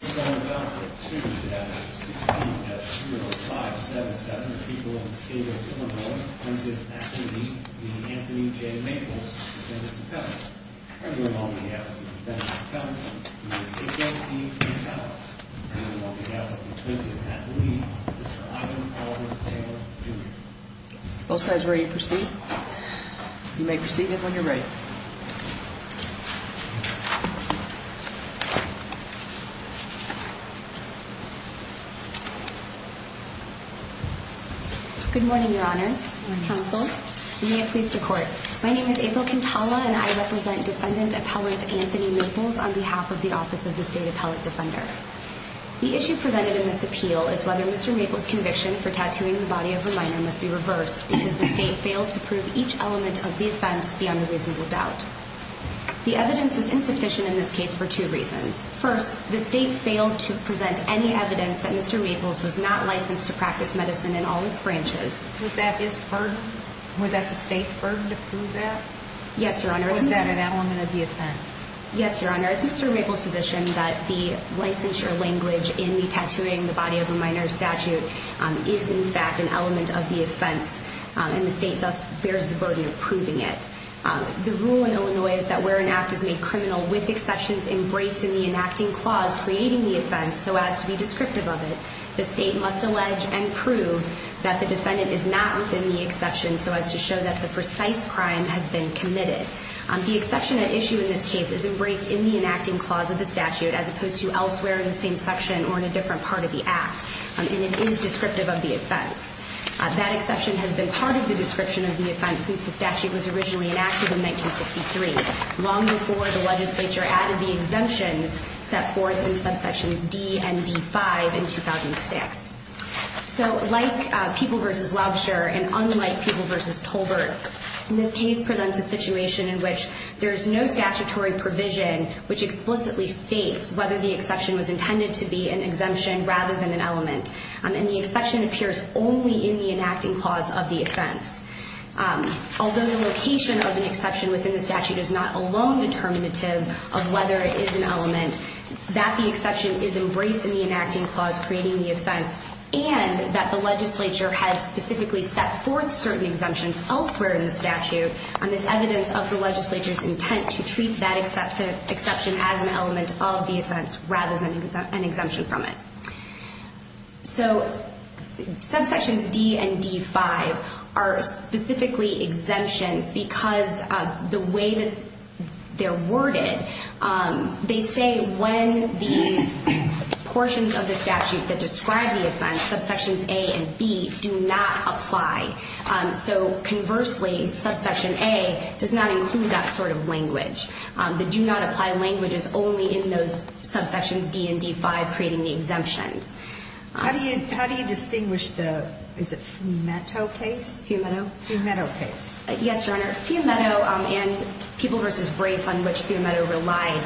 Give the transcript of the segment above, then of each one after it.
On August 2, 2016, at room number 577, the people of the state of Illinois presented at the meeting the Anthony J. Maples, defendant of the country. On behalf of the defendant of the country, Mr. H.L.T. McAllister. On behalf of the plaintiff at the meeting, Mr. Ivan Alvin Taylor, Jr. Both sides ready to proceed? You may proceed when you're ready. Good morning, your honors, counsel, and may it please the court. My name is April Quintala and I represent defendant appellate Anthony Maples on behalf of the office of the state appellate defender. The issue presented in this appeal is whether Mr. Maples' conviction for tattooing the body of a minor must be reversed because the state failed to prove each element of the offense beyond a reasonable doubt. The evidence was insufficient in this case for two reasons. First, the state failed to present any evidence that Mr. Maples was not licensed to practice medicine in all its branches. Was that his burden? Was that the state's burden to prove that? Yes, your honors. Or was that an element of the offense? Yes, your honors. It's Mr. Maples' position that the licensure language in the tattooing the body of a minor statute is in fact an element of the offense and the state thus bears the burden of proving it. The rule in Illinois is that where an act is made criminal with exceptions embraced in the enacting clause creating the offense so as to be descriptive of it, the state must allege and prove that the defendant is not within the exception so as to show that the precise crime has been committed. The exception at issue in this case is embraced in the enacting clause of the statute as opposed to elsewhere in the same section or in a different part of the act. And it is descriptive of the offense. That exception has been part of the description of the offense since the statute was originally enacted in 1963, long before the legislature added the exemptions set forth in subsections D and D-5 in 2006. So like People v. Lobsher and unlike People v. Tolbert, this case presents a situation in which there is no statutory provision which explicitly states whether the exception was intended to be an exemption rather than an element. And the exception appears only in the enacting clause of the offense. Although the location of an exception within the statute is not alone determinative of whether it is an element, that the exception is embraced in the enacting clause creating the offense and that the legislature has specifically set forth certain exemptions elsewhere in the statute and is evidence of the legislature's intent to treat that exception as an element of the offense rather than an exemption from it. So subsections D and D-5 are specifically exemptions because of the way that they're worded. They say when the portions of the statute that describe the offense, subsections A and B, do not apply. So conversely, subsection A does not include that sort of language. The do not apply language is only in those subsections D and D-5 creating the exemptions. How do you distinguish the, is it Fiumetto case? Fiumetto. Fiumetto case. Yes, Your Honor. Fiumetto and People v. Brace on which Fiumetto relied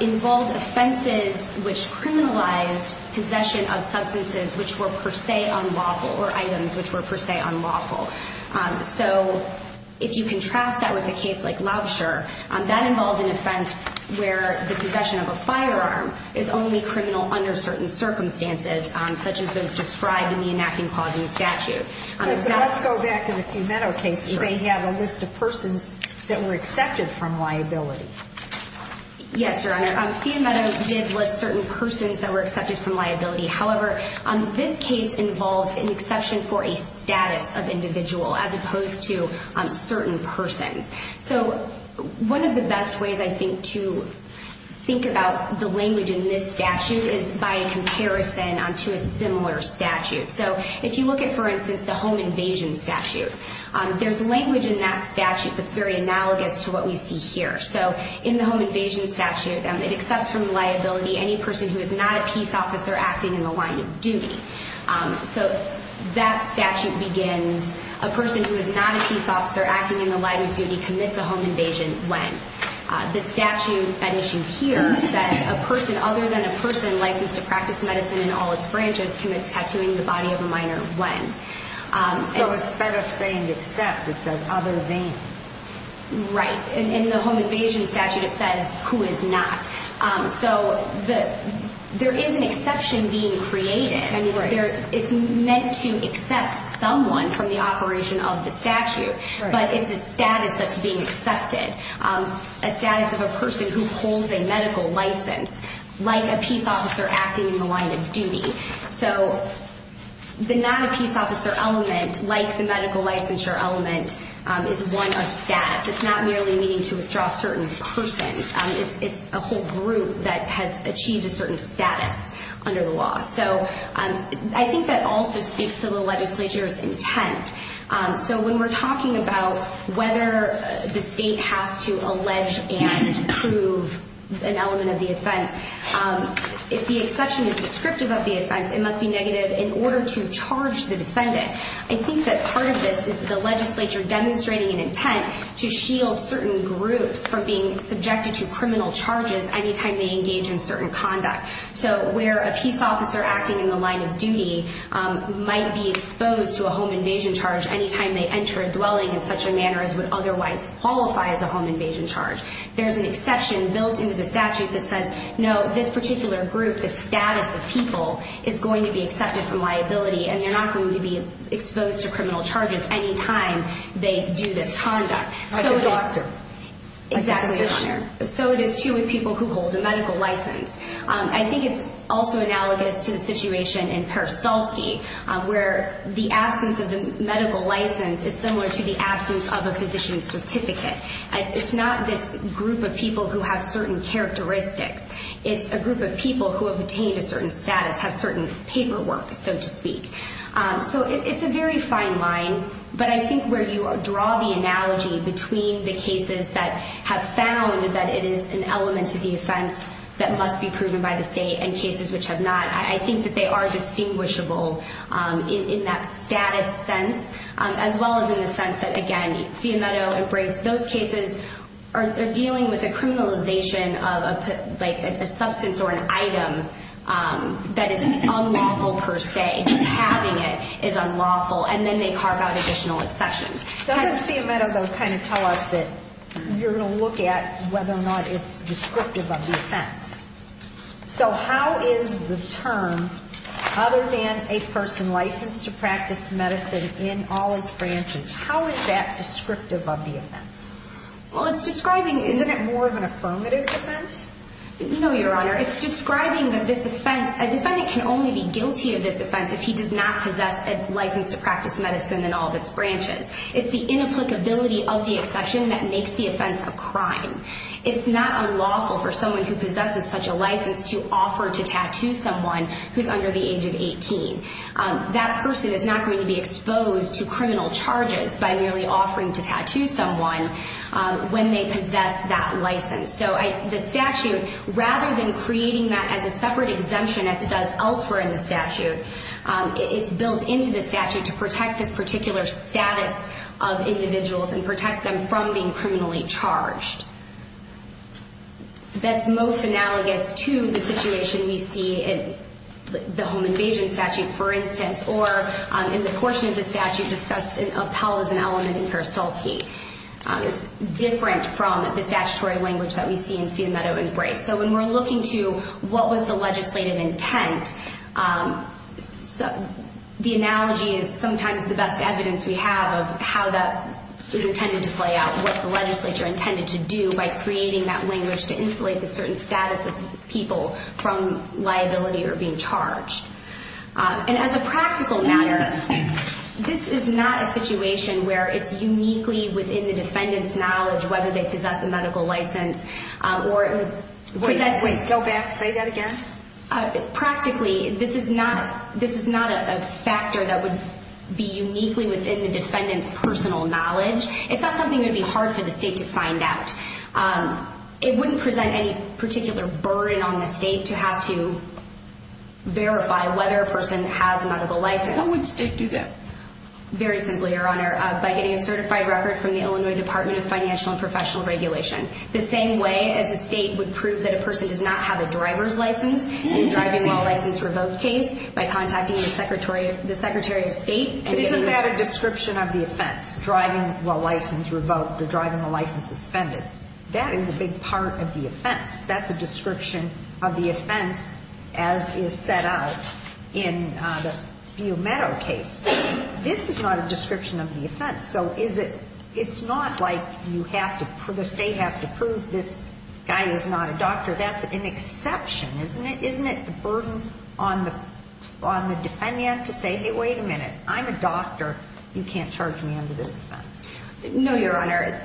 involved offenses which criminalized possession of substances which were per se unlawful or items which were per se unlawful. So if you contrast that with a case like Laubscher, that involved an offense where the possession of a firearm is only criminal under certain circumstances, such as those described in the enacting clause in the statute. Let's go back to the Fiumetto case. They have a list of persons that were accepted from liability. Yes, Your Honor. Fiumetto did list certain persons that were accepted from liability. However, this case involves an exception for a status of individual as opposed to certain persons. So one of the best ways, I think, to think about the language in this statute is by a comparison to a similar statute. So if you look at, for instance, the home invasion statute, there's language in that statute that's very analogous to what we see here. So in the home invasion statute, it accepts from liability any person who is not a peace officer acting in the line of duty. So that statute begins, a person who is not a peace officer acting in the line of duty commits a home invasion when? The statute at issue here says a person other than a person licensed to practice medicine in all its branches commits tattooing the body of a minor when? So instead of saying except, it says other than. Right. In the home invasion statute, it says who is not. So there is an exception being created. Right. It's meant to accept someone from the operation of the statute. Right. But it's a status that's being accepted, a status of a person who holds a medical license, like a peace officer acting in the line of duty. So the not a peace officer element, like the medical licensure element, is one of status. It's not merely meaning to withdraw certain persons. It's a whole group that has achieved a certain status under the law. So I think that also speaks to the legislature's intent. So when we're talking about whether the state has to allege and prove an element of the offense, if the exception is descriptive of the offense, it must be negative in order to charge the defendant. I think that part of this is the legislature demonstrating an intent to shield certain groups from being subjected to criminal charges anytime they engage in certain conduct. So where a peace officer acting in the line of duty might be exposed to a home invasion charge anytime they enter a dwelling in such a manner as would otherwise qualify as a home invasion charge. There's an exception built into the statute that says, no, this particular group, the status of people, is going to be accepted from liability and they're not going to be exposed to criminal charges anytime they do this conduct. Like a doctor. Exactly. Like a physician. So it is true with people who hold a medical license. I think it's also analogous to the situation in Perestalski where the absence of the medical license is similar to the absence of a physician's certificate. It's not this group of people who have certain characteristics. It's a group of people who have attained a certain status, have certain paperwork, so to speak. So it's a very fine line. But I think where you draw the analogy between the cases that have found that it is an element to the offense that must be proven by the state and cases which have not, I think that they are distinguishable in that status sense, as well as in the sense that, again, Fiametto embraced those cases are dealing with a criminalization of a substance or an item that is unlawful per se. Just having it is unlawful. And then they carve out additional exceptions. Doesn't Fiametto, though, kind of tell us that you're going to look at whether or not it's descriptive of the offense? So how is the term other than a person licensed to practice medicine in all its branches, how is that descriptive of the offense? Well, it's describing, isn't it more of an affirmative offense? No, Your Honor. It's describing that this offense, a defendant can only be guilty of this offense if he does not possess a license to practice medicine in all of its branches. It's the inapplicability of the exception that makes the offense a crime. It's not unlawful for someone who possesses such a license to offer to tattoo someone who's under the age of 18. That person is not going to be exposed to criminal charges by merely offering to tattoo someone when they possess that license. So the statute, rather than creating that as a separate exemption as it does elsewhere in the statute, it's built into the statute to protect this particular status of individuals and protect them from being criminally charged. That's most analogous to the situation we see in the home invasion statute, for instance, or in the portion of the statute discussed in Appellas and Elliman and Karstolsky. It's different from the statutory language that we see in Fiametto and Brace. So when we're looking to what was the legislative intent, the analogy is sometimes the best evidence we have of how that is intended to play out, what the legislature intended to do by creating that language to insulate the certain status of people from liability or being charged. And as a practical matter, this is not a situation where it's uniquely within the defendant's knowledge whether they possess a medical license. Go back. Say that again. Practically, this is not a factor that would be uniquely within the defendant's personal knowledge. It's not something that would be hard for the state to find out. It wouldn't present any particular burden on the state to have to verify whether a person has a medical license. How would the state do that? Very simply, Your Honor, by getting a certified record from the Illinois Department of Financial and Professional Regulation. The same way as a state would prove that a person does not have a driver's license in a driving while license revoked case, by contacting the Secretary of State and getting this- But isn't that a description of the offense, driving while license revoked or driving while license suspended? That is a big part of the offense. That's a description of the offense as is set out in the Meadow case. This is not a description of the offense. So it's not like the state has to prove this guy is not a doctor. That's an exception, isn't it? Isn't it the burden on the defendant to say, hey, wait a minute, I'm a doctor. You can't charge me under this offense. No, Your Honor.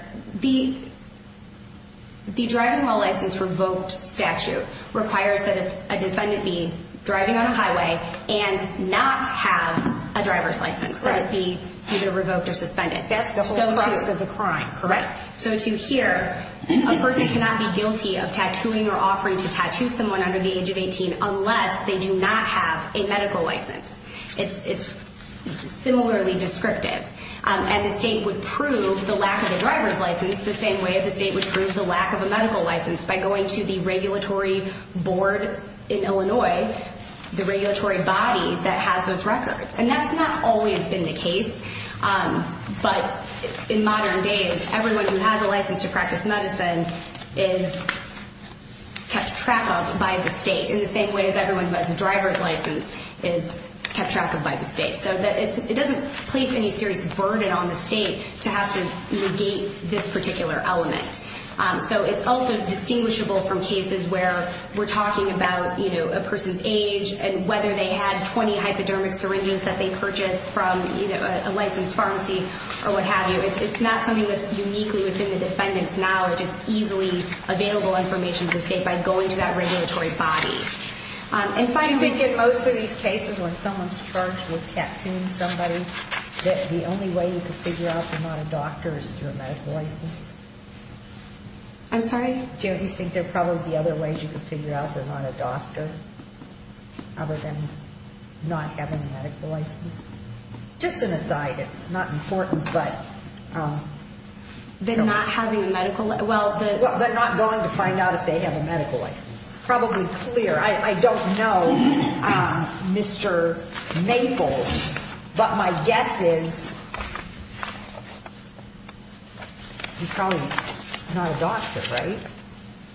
The driving while license revoked statute requires that a defendant be driving on a highway and not have a driver's license, that it be either revoked or suspended. That's the whole premise of the crime, correct? So to here, a person cannot be guilty of tattooing or offering to tattoo someone under the age of 18 unless they do not have a medical license. It's similarly descriptive. And the state would prove the lack of a driver's license the same way the state would prove the lack of a medical license by going to the regulatory board in Illinois, the regulatory body that has those records. And that's not always been the case. But in modern days, everyone who has a license to practice medicine is kept track of by the state in the same way as everyone who has a driver's license is kept track of by the state. So it doesn't place any serious burden on the state to have to negate this particular element. So it's also distinguishable from cases where we're talking about a person's age and whether they had 20 hypodermic syringes that they purchased from a licensed pharmacy or what have you. It's not something that's uniquely within the defendant's knowledge. It's easily available information to the state by going to that regulatory body. Do you think in most of these cases when someone's charged with tattooing somebody that the only way you could figure out they're not a doctor is through a medical license? I'm sorry? Do you think there are probably other ways you could figure out they're not a doctor other than not having a medical license? Just an aside. It's not important, but... They're not having a medical license. Well, they're not going to find out if they have a medical license. It's probably clear. I don't know, Mr. Maples. But my guess is he's probably not a doctor, right?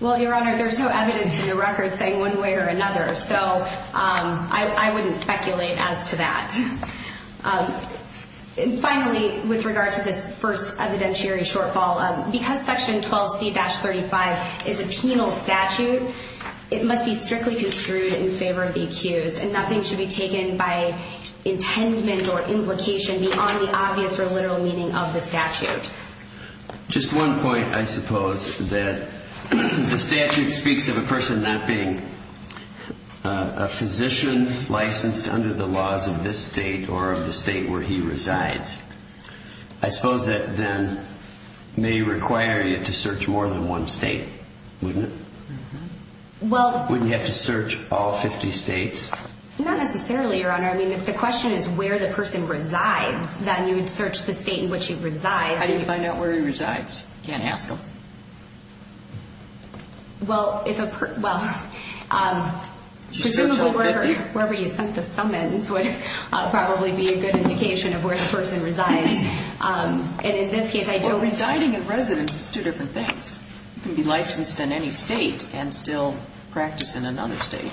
Well, Your Honor, there's no evidence in the record saying one way or another. So I wouldn't speculate as to that. And finally, with regard to this first evidentiary shortfall, because Section 12C-35 is a penal statute, it must be strictly construed in favor of the accused, and nothing should be taken by intendment or implication beyond the obvious or literal meaning of the statute. Just one point, I suppose, that the statute speaks of a person not being a physician licensed under the laws of this state or of the state where he resides. I suppose that then may require you to search more than one state, wouldn't it? Well... Wouldn't you have to search all 50 states? Not necessarily, Your Honor. I mean, if the question is where the person resides, then you would search the state in which he resides. How do you find out where he resides? You can't ask him. Well, if a person... Did you search all 50? I'm sure wherever you sent the summons would probably be a good indication of where the person resides. And in this case, I don't... Well, residing in residence is two different things. You can be licensed in any state and still practice in another state.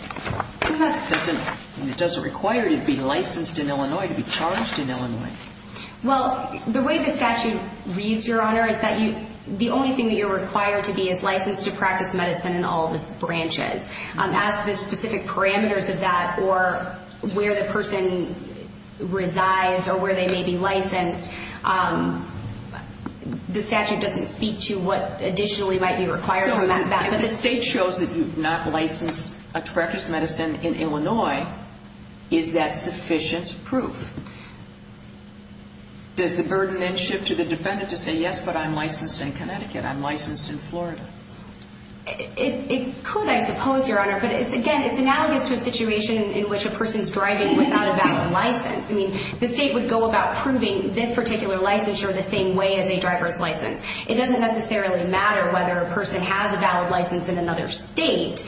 It doesn't require you to be licensed in Illinois to be charged in Illinois. Well, the way the statute reads, Your Honor, is that the only thing that you're required to be is licensed to practice medicine in all the branches. As to the specific parameters of that or where the person resides or where they may be licensed, the statute doesn't speak to what additionally might be required for that. So if the state shows that you've not licensed to practice medicine in Illinois, is that sufficient proof? Does the burden then shift to the defendant to say, yes, but I'm licensed in Connecticut, I'm licensed in Florida? It could, I suppose, Your Honor. But, again, it's analogous to a situation in which a person's driving without a valid license. I mean, the state would go about proving this particular licensure the same way as a driver's license. It doesn't necessarily matter whether a person has a valid license in another state.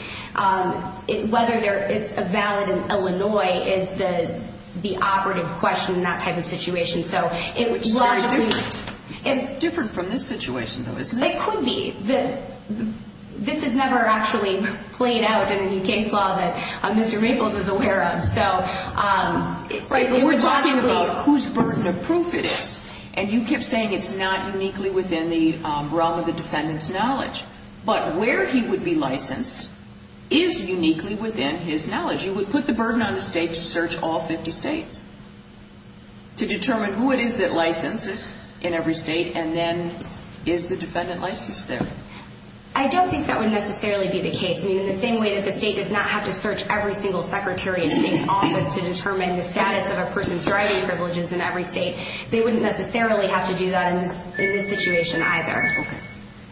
Whether it's valid in Illinois is the operative question in that type of situation. It's very different from this situation, though, isn't it? It could be. This has never actually played out in a new case law that Mr. Maples is aware of. Right, but we're talking about whose burden of proof it is. And you kept saying it's not uniquely within the realm of the defendant's knowledge. But where he would be licensed is uniquely within his knowledge. You would put the burden on the state to search all 50 states to determine who it is that licenses in every state, and then is the defendant licensed there? I don't think that would necessarily be the case. I mean, in the same way that the state does not have to search every single secretary of state's office to determine the status of a person's driving privileges in every state, they wouldn't necessarily have to do that in this situation either.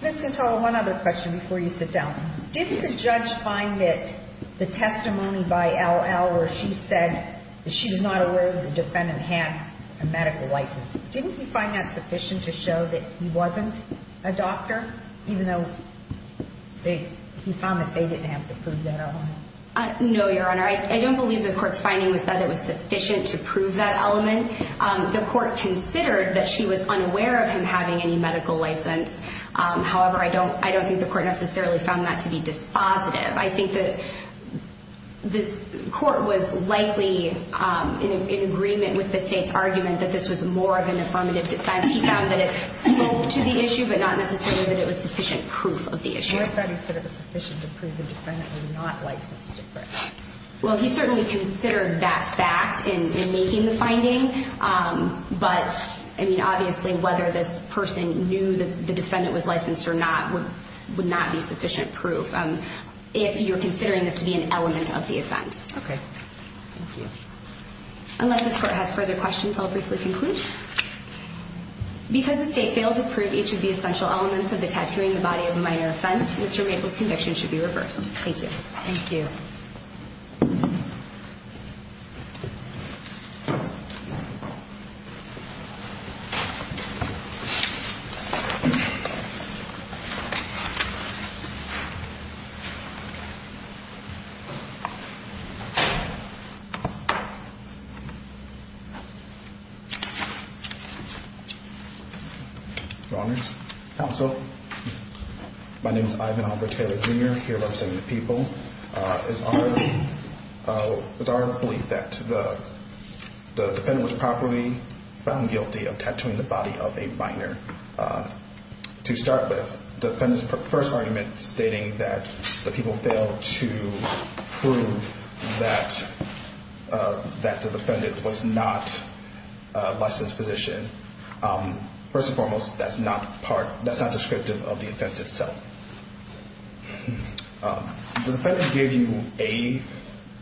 Ms. Cantola, one other question before you sit down. Did the judge find that the testimony by L.L. where she said that she was not aware that the defendant had a medical license, didn't he find that sufficient to show that he wasn't a doctor, even though he found that they didn't have to prove that element? No, Your Honor. I don't believe the court's finding was that it was sufficient to prove that element. The court considered that she was unaware of him having any medical license. However, I don't think the court necessarily found that to be dispositive. I think that the court was likely in agreement with the state's argument that this was more of an affirmative defense. He found that it spoke to the issue, but not necessarily that it was sufficient proof of the issue. What if he said it was sufficient to prove the defendant was not licensed to correct? Obviously, whether this person knew that the defendant was licensed or not would not be sufficient proof if you're considering this to be an element of the offense. Okay. Thank you. Unless this court has further questions, I'll briefly conclude. Because the state failed to prove each of the essential elements of the tattooing in the body of a minor offense, Mr. Maple's conviction should be reversed. Thank you. Thank you. Thank you. Your Honors. Counsel. My name is Ivan Albert Taylor, Jr., here representing the people. It's our belief that the defendant was properly found guilty of tattooing the body of a minor. To start with, the defendant's first argument stating that the people failed to prove that the defendant was not a licensed physician, first and foremost, that's not descriptive of the offense itself. The defendant gave you a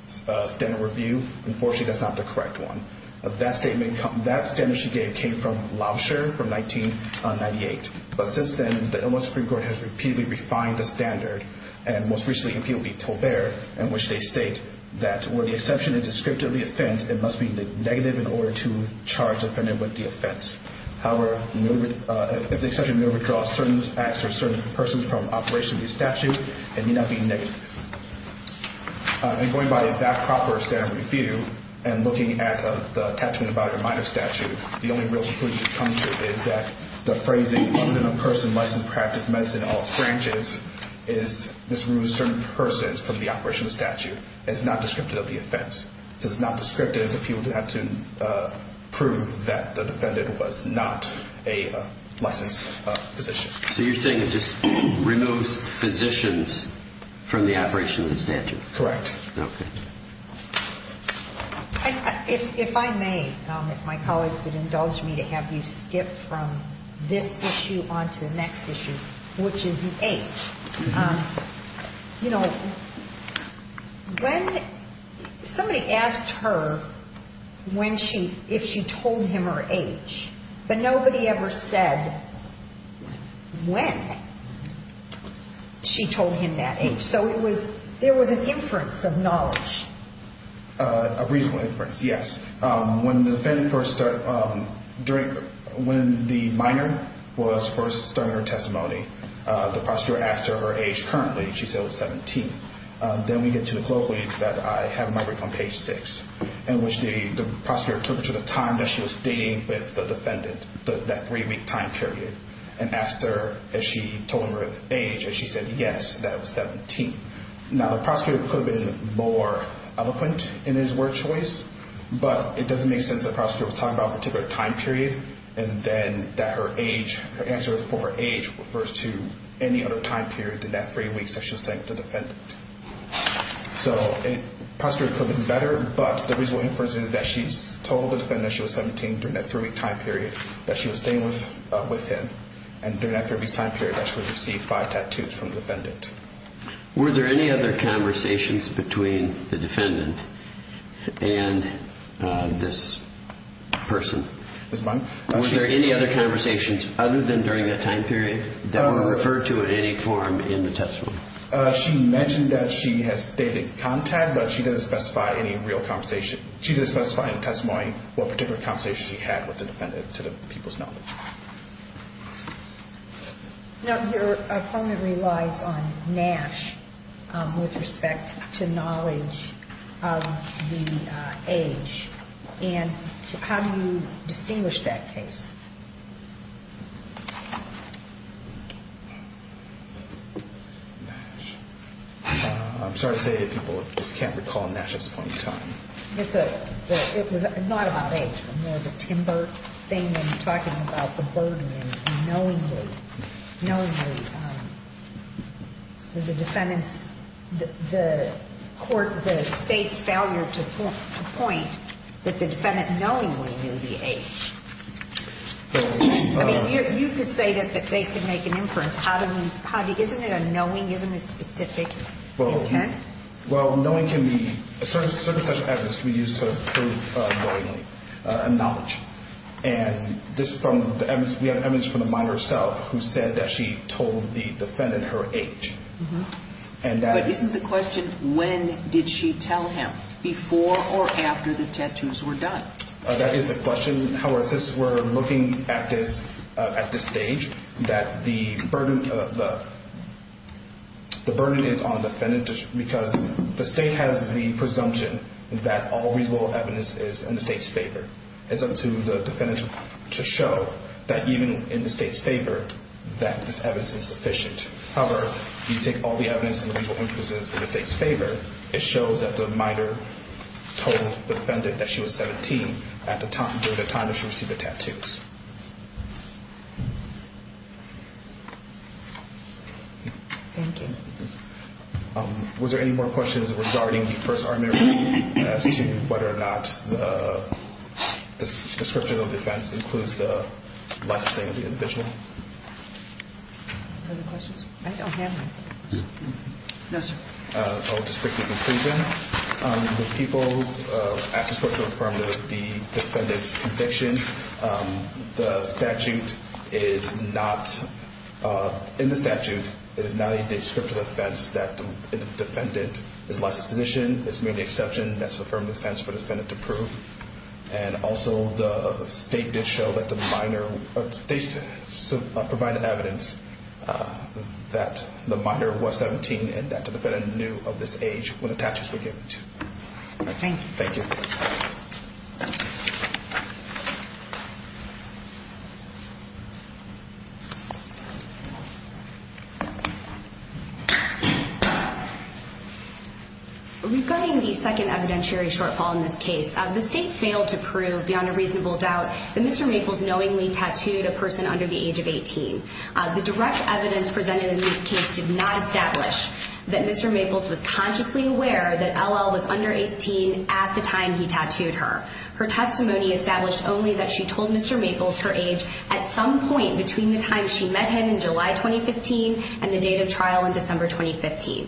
standard review. Unfortunately, that's not the correct one. That statement she gave came from Lobsher from 1998. But since then, the Illinois Supreme Court has repeatedly refined the standard and most recently appealed to Tolbert in which they state that where the exception is descriptive of the offense, it must be negative in order to charge the defendant with the offense. However, if the exception may withdraw certain acts or certain persons from operation of the statute, it may not be negative. And going by that proper standard review and looking at the tattooing in the body of a minor statute, the only real conclusion to come to is that the phrasing, even in a person licensed to practice medicine in all its branches, is this removes certain persons from the operation of the statute. It's not descriptive of the offense. So it's not descriptive that people have to prove that the defendant was not a licensed physician. So you're saying it just removes physicians from the operation of the statute? Correct. Okay. If I may, if my colleagues would indulge me to have you skip from this issue onto the next issue, which is the H. You know, when somebody asked her if she told him her H, but nobody ever said when she told him that H. So there was an inference of knowledge. A reasonable inference, yes. When the minor was first starting her testimony, the prosecutor asked her her age currently. She said it was 17. Then we get to the quote that I have in my brief on page 6, in which the prosecutor took to the time that she was dating with the defendant, that three-week time period, and asked her if she told him her age, and she said yes, that it was 17. Now, the prosecutor could have been more eloquent in his word choice, but it doesn't make sense that the prosecutor was talking about a particular time period and then that her age, her answer for her age, refers to any other time period in that three weeks that she was dating with the defendant. So it possibly could have been better, but the reasonable inference is that she told the defendant that she was 17 during that three-week time period, that she was dating with him, and during that three-week time period actually received five tattoos from the defendant. Were there any other conversations between the defendant and this person? Were there any other conversations other than during that time period that were referred to in any form in the testimony? She mentioned that she has dated contact, but she didn't specify any real conversation. She didn't specify in the testimony what particular conversation she had with the defendant to the people's knowledge. Now, your comment relies on Nash with respect to knowledge of the age, and how do you distinguish that case? Nash. I'm sorry to say that people just can't recall Nash's point in time. It's a – it was not about age, but more of a timber thing when you're talking about the burden and knowingly, so the defendant's – the court – the State's failure to point that the defendant knowingly knew the age. I mean, you could say that they could make an inference. How do we – isn't it a knowing? Isn't it specific intent? Well, knowing can be – a certain set of evidence can be used to prove knowingly a knowledge, and this from the evidence – we have evidence from the minor herself who said that she told the defendant her age. But isn't the question when did she tell him, before or after the tattoos were done? That is the question. However, since we're looking at this – at this stage, that the burden – the burden is on the defendant because the State has the presumption that all reasonable evidence is in the State's favor. It's up to the defendant to show that even in the State's favor that this evidence is sufficient. However, you take all the evidence and the reasonable inferences in the State's favor, it shows that the minor told the defendant that she was 17 at the time that she received the tattoos. Thank you. Was there any more questions regarding the first argument as to whether or not the description of defense includes the licensing of the individual? Other questions? I don't have any. No, sir. I'll just make a conclusion. The people asked us what to confirm the defendant's conviction. The statute is not – in the statute, it is not a descriptive defense that the defendant is a licensed physician. It's merely an exception. That's a firm defense for the defendant to prove. And also, the State did show that the minor – the State provided evidence that the minor was 17 and that the defendant knew of this age when the tattoos were given to her. Thank you. Thank you. Thank you. Regarding the second evidentiary shortfall in this case, the State failed to prove beyond a reasonable doubt that Mr. Maples knowingly tattooed a person under the age of 18. The direct evidence presented in this case did not establish that Mr. Maples was consciously aware that L.L. was under 18 at the time he tattooed her. Her testimony established only that she told Mr. Maples her age at some point between the time she met him in July 2015 and the date of trial in December 2015.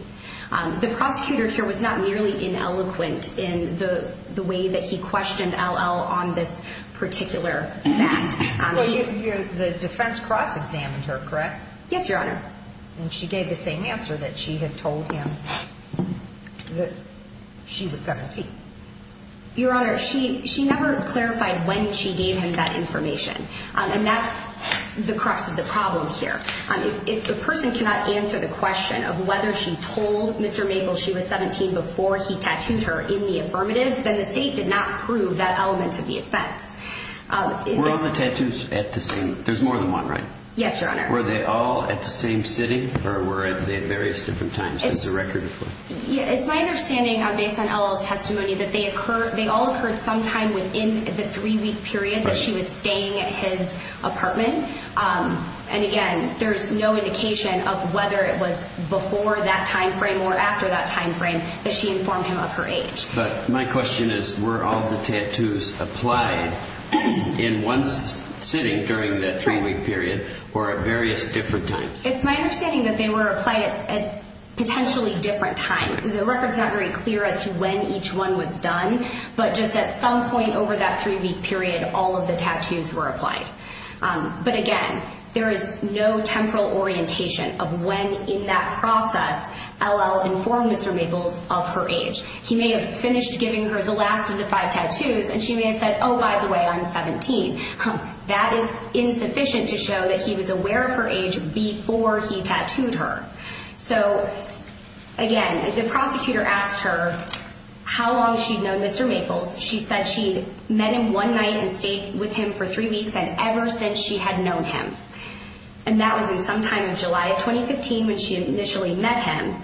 The prosecutor here was not merely ineloquent in the way that he questioned L.L. on this particular fact. The defense cross-examined her, correct? Yes, Your Honor. And she gave the same answer that she had told him that she was 17. Your Honor, she never clarified when she gave him that information. And that's the crux of the problem here. If the person cannot answer the question of whether she told Mr. Maples she was 17 before he tattooed her in the affirmative, then the State did not prove that element of the offense. Were all the tattoos at the same? There's more than one, right? Yes, Your Honor. Were they all at the same sitting or were they at various different times? It's my understanding, based on L.L.'s testimony, that they all occurred sometime within the three-week period that she was staying at his apartment. And, again, there's no indication of whether it was before that time frame or after that time frame that she informed him of her age. But my question is, were all the tattoos applied in one sitting during that three-week period or at various different times? It's my understanding that they were applied at potentially different times. The record's not very clear as to when each one was done. But just at some point over that three-week period, all of the tattoos were applied. But, again, there is no temporal orientation of when in that process L.L. informed Mr. Maples of her age. He may have finished giving her the last of the five tattoos and she may have said, oh, by the way, I'm 17. That is insufficient to show that he was aware of her age before he tattooed her. So, again, the prosecutor asked her how long she'd known Mr. Maples. She said she'd met him one night and stayed with him for three weeks and ever since she had known him. And that was in sometime in July of 2015 when she initially met him.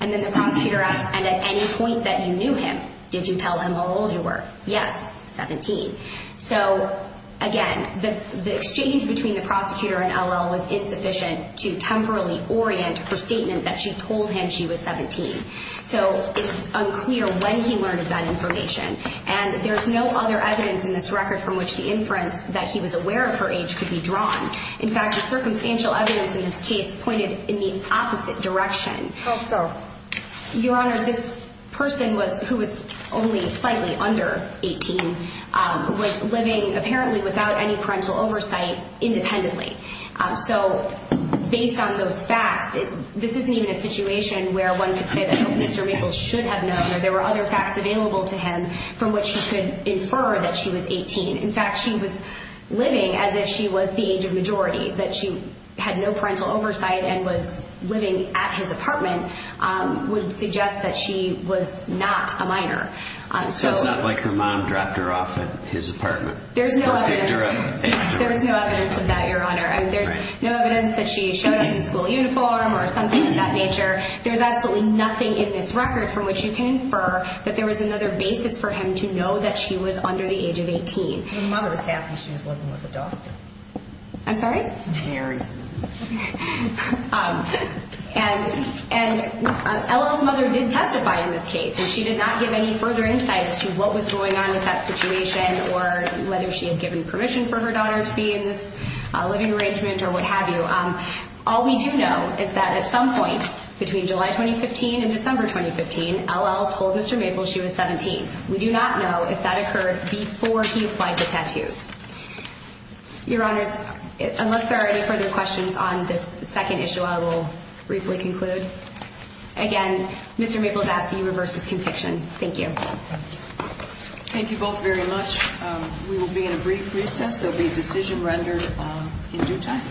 And then the prosecutor asked, and at any point that you knew him, did you tell him how old you were? Yes, 17. So, again, the exchange between the prosecutor and L.L. was insufficient to temporally orient her statement that she told him she was 17. So it's unclear when he learned of that information. And there's no other evidence in this record from which the inference that he was aware of her age could be drawn. In fact, the circumstantial evidence in this case pointed in the opposite direction. How so? Your Honor, this person who was only slightly under 18 was living apparently without any parental oversight independently. So based on those facts, this isn't even a situation where one could say that Mr. Maples should have known or there were other facts available to him from which he could infer that she was 18. In fact, she was living as if she was the age of majority. That she had no parental oversight and was living at his apartment would suggest that she was not a minor. So it's not like her mom dropped her off at his apartment. There's no evidence of that, Your Honor. There's no evidence that she showed up in school uniform or something of that nature. There's absolutely nothing in this record from which you can infer that there was another basis for him to know that she was under the age of 18. Her mother was happy she was living with a doctor. I'm sorry? Married. And Ella's mother did testify in this case. And she did not give any further insights to what was going on with that situation or whether she had given permission for her daughter to be in this living arrangement or what have you. All we do know is that at some point between July 2015 and December 2015, Ella told Mr. Maples she was 17. We do not know if that occurred before he applied the tattoos. Your Honors, unless there are any further questions on this second issue, I will briefly conclude. Again, Mr. Maples asks that you reverse his conviction. Thank you. Thank you both very much. We will be in a brief recess. There will be a decision rendered in due time.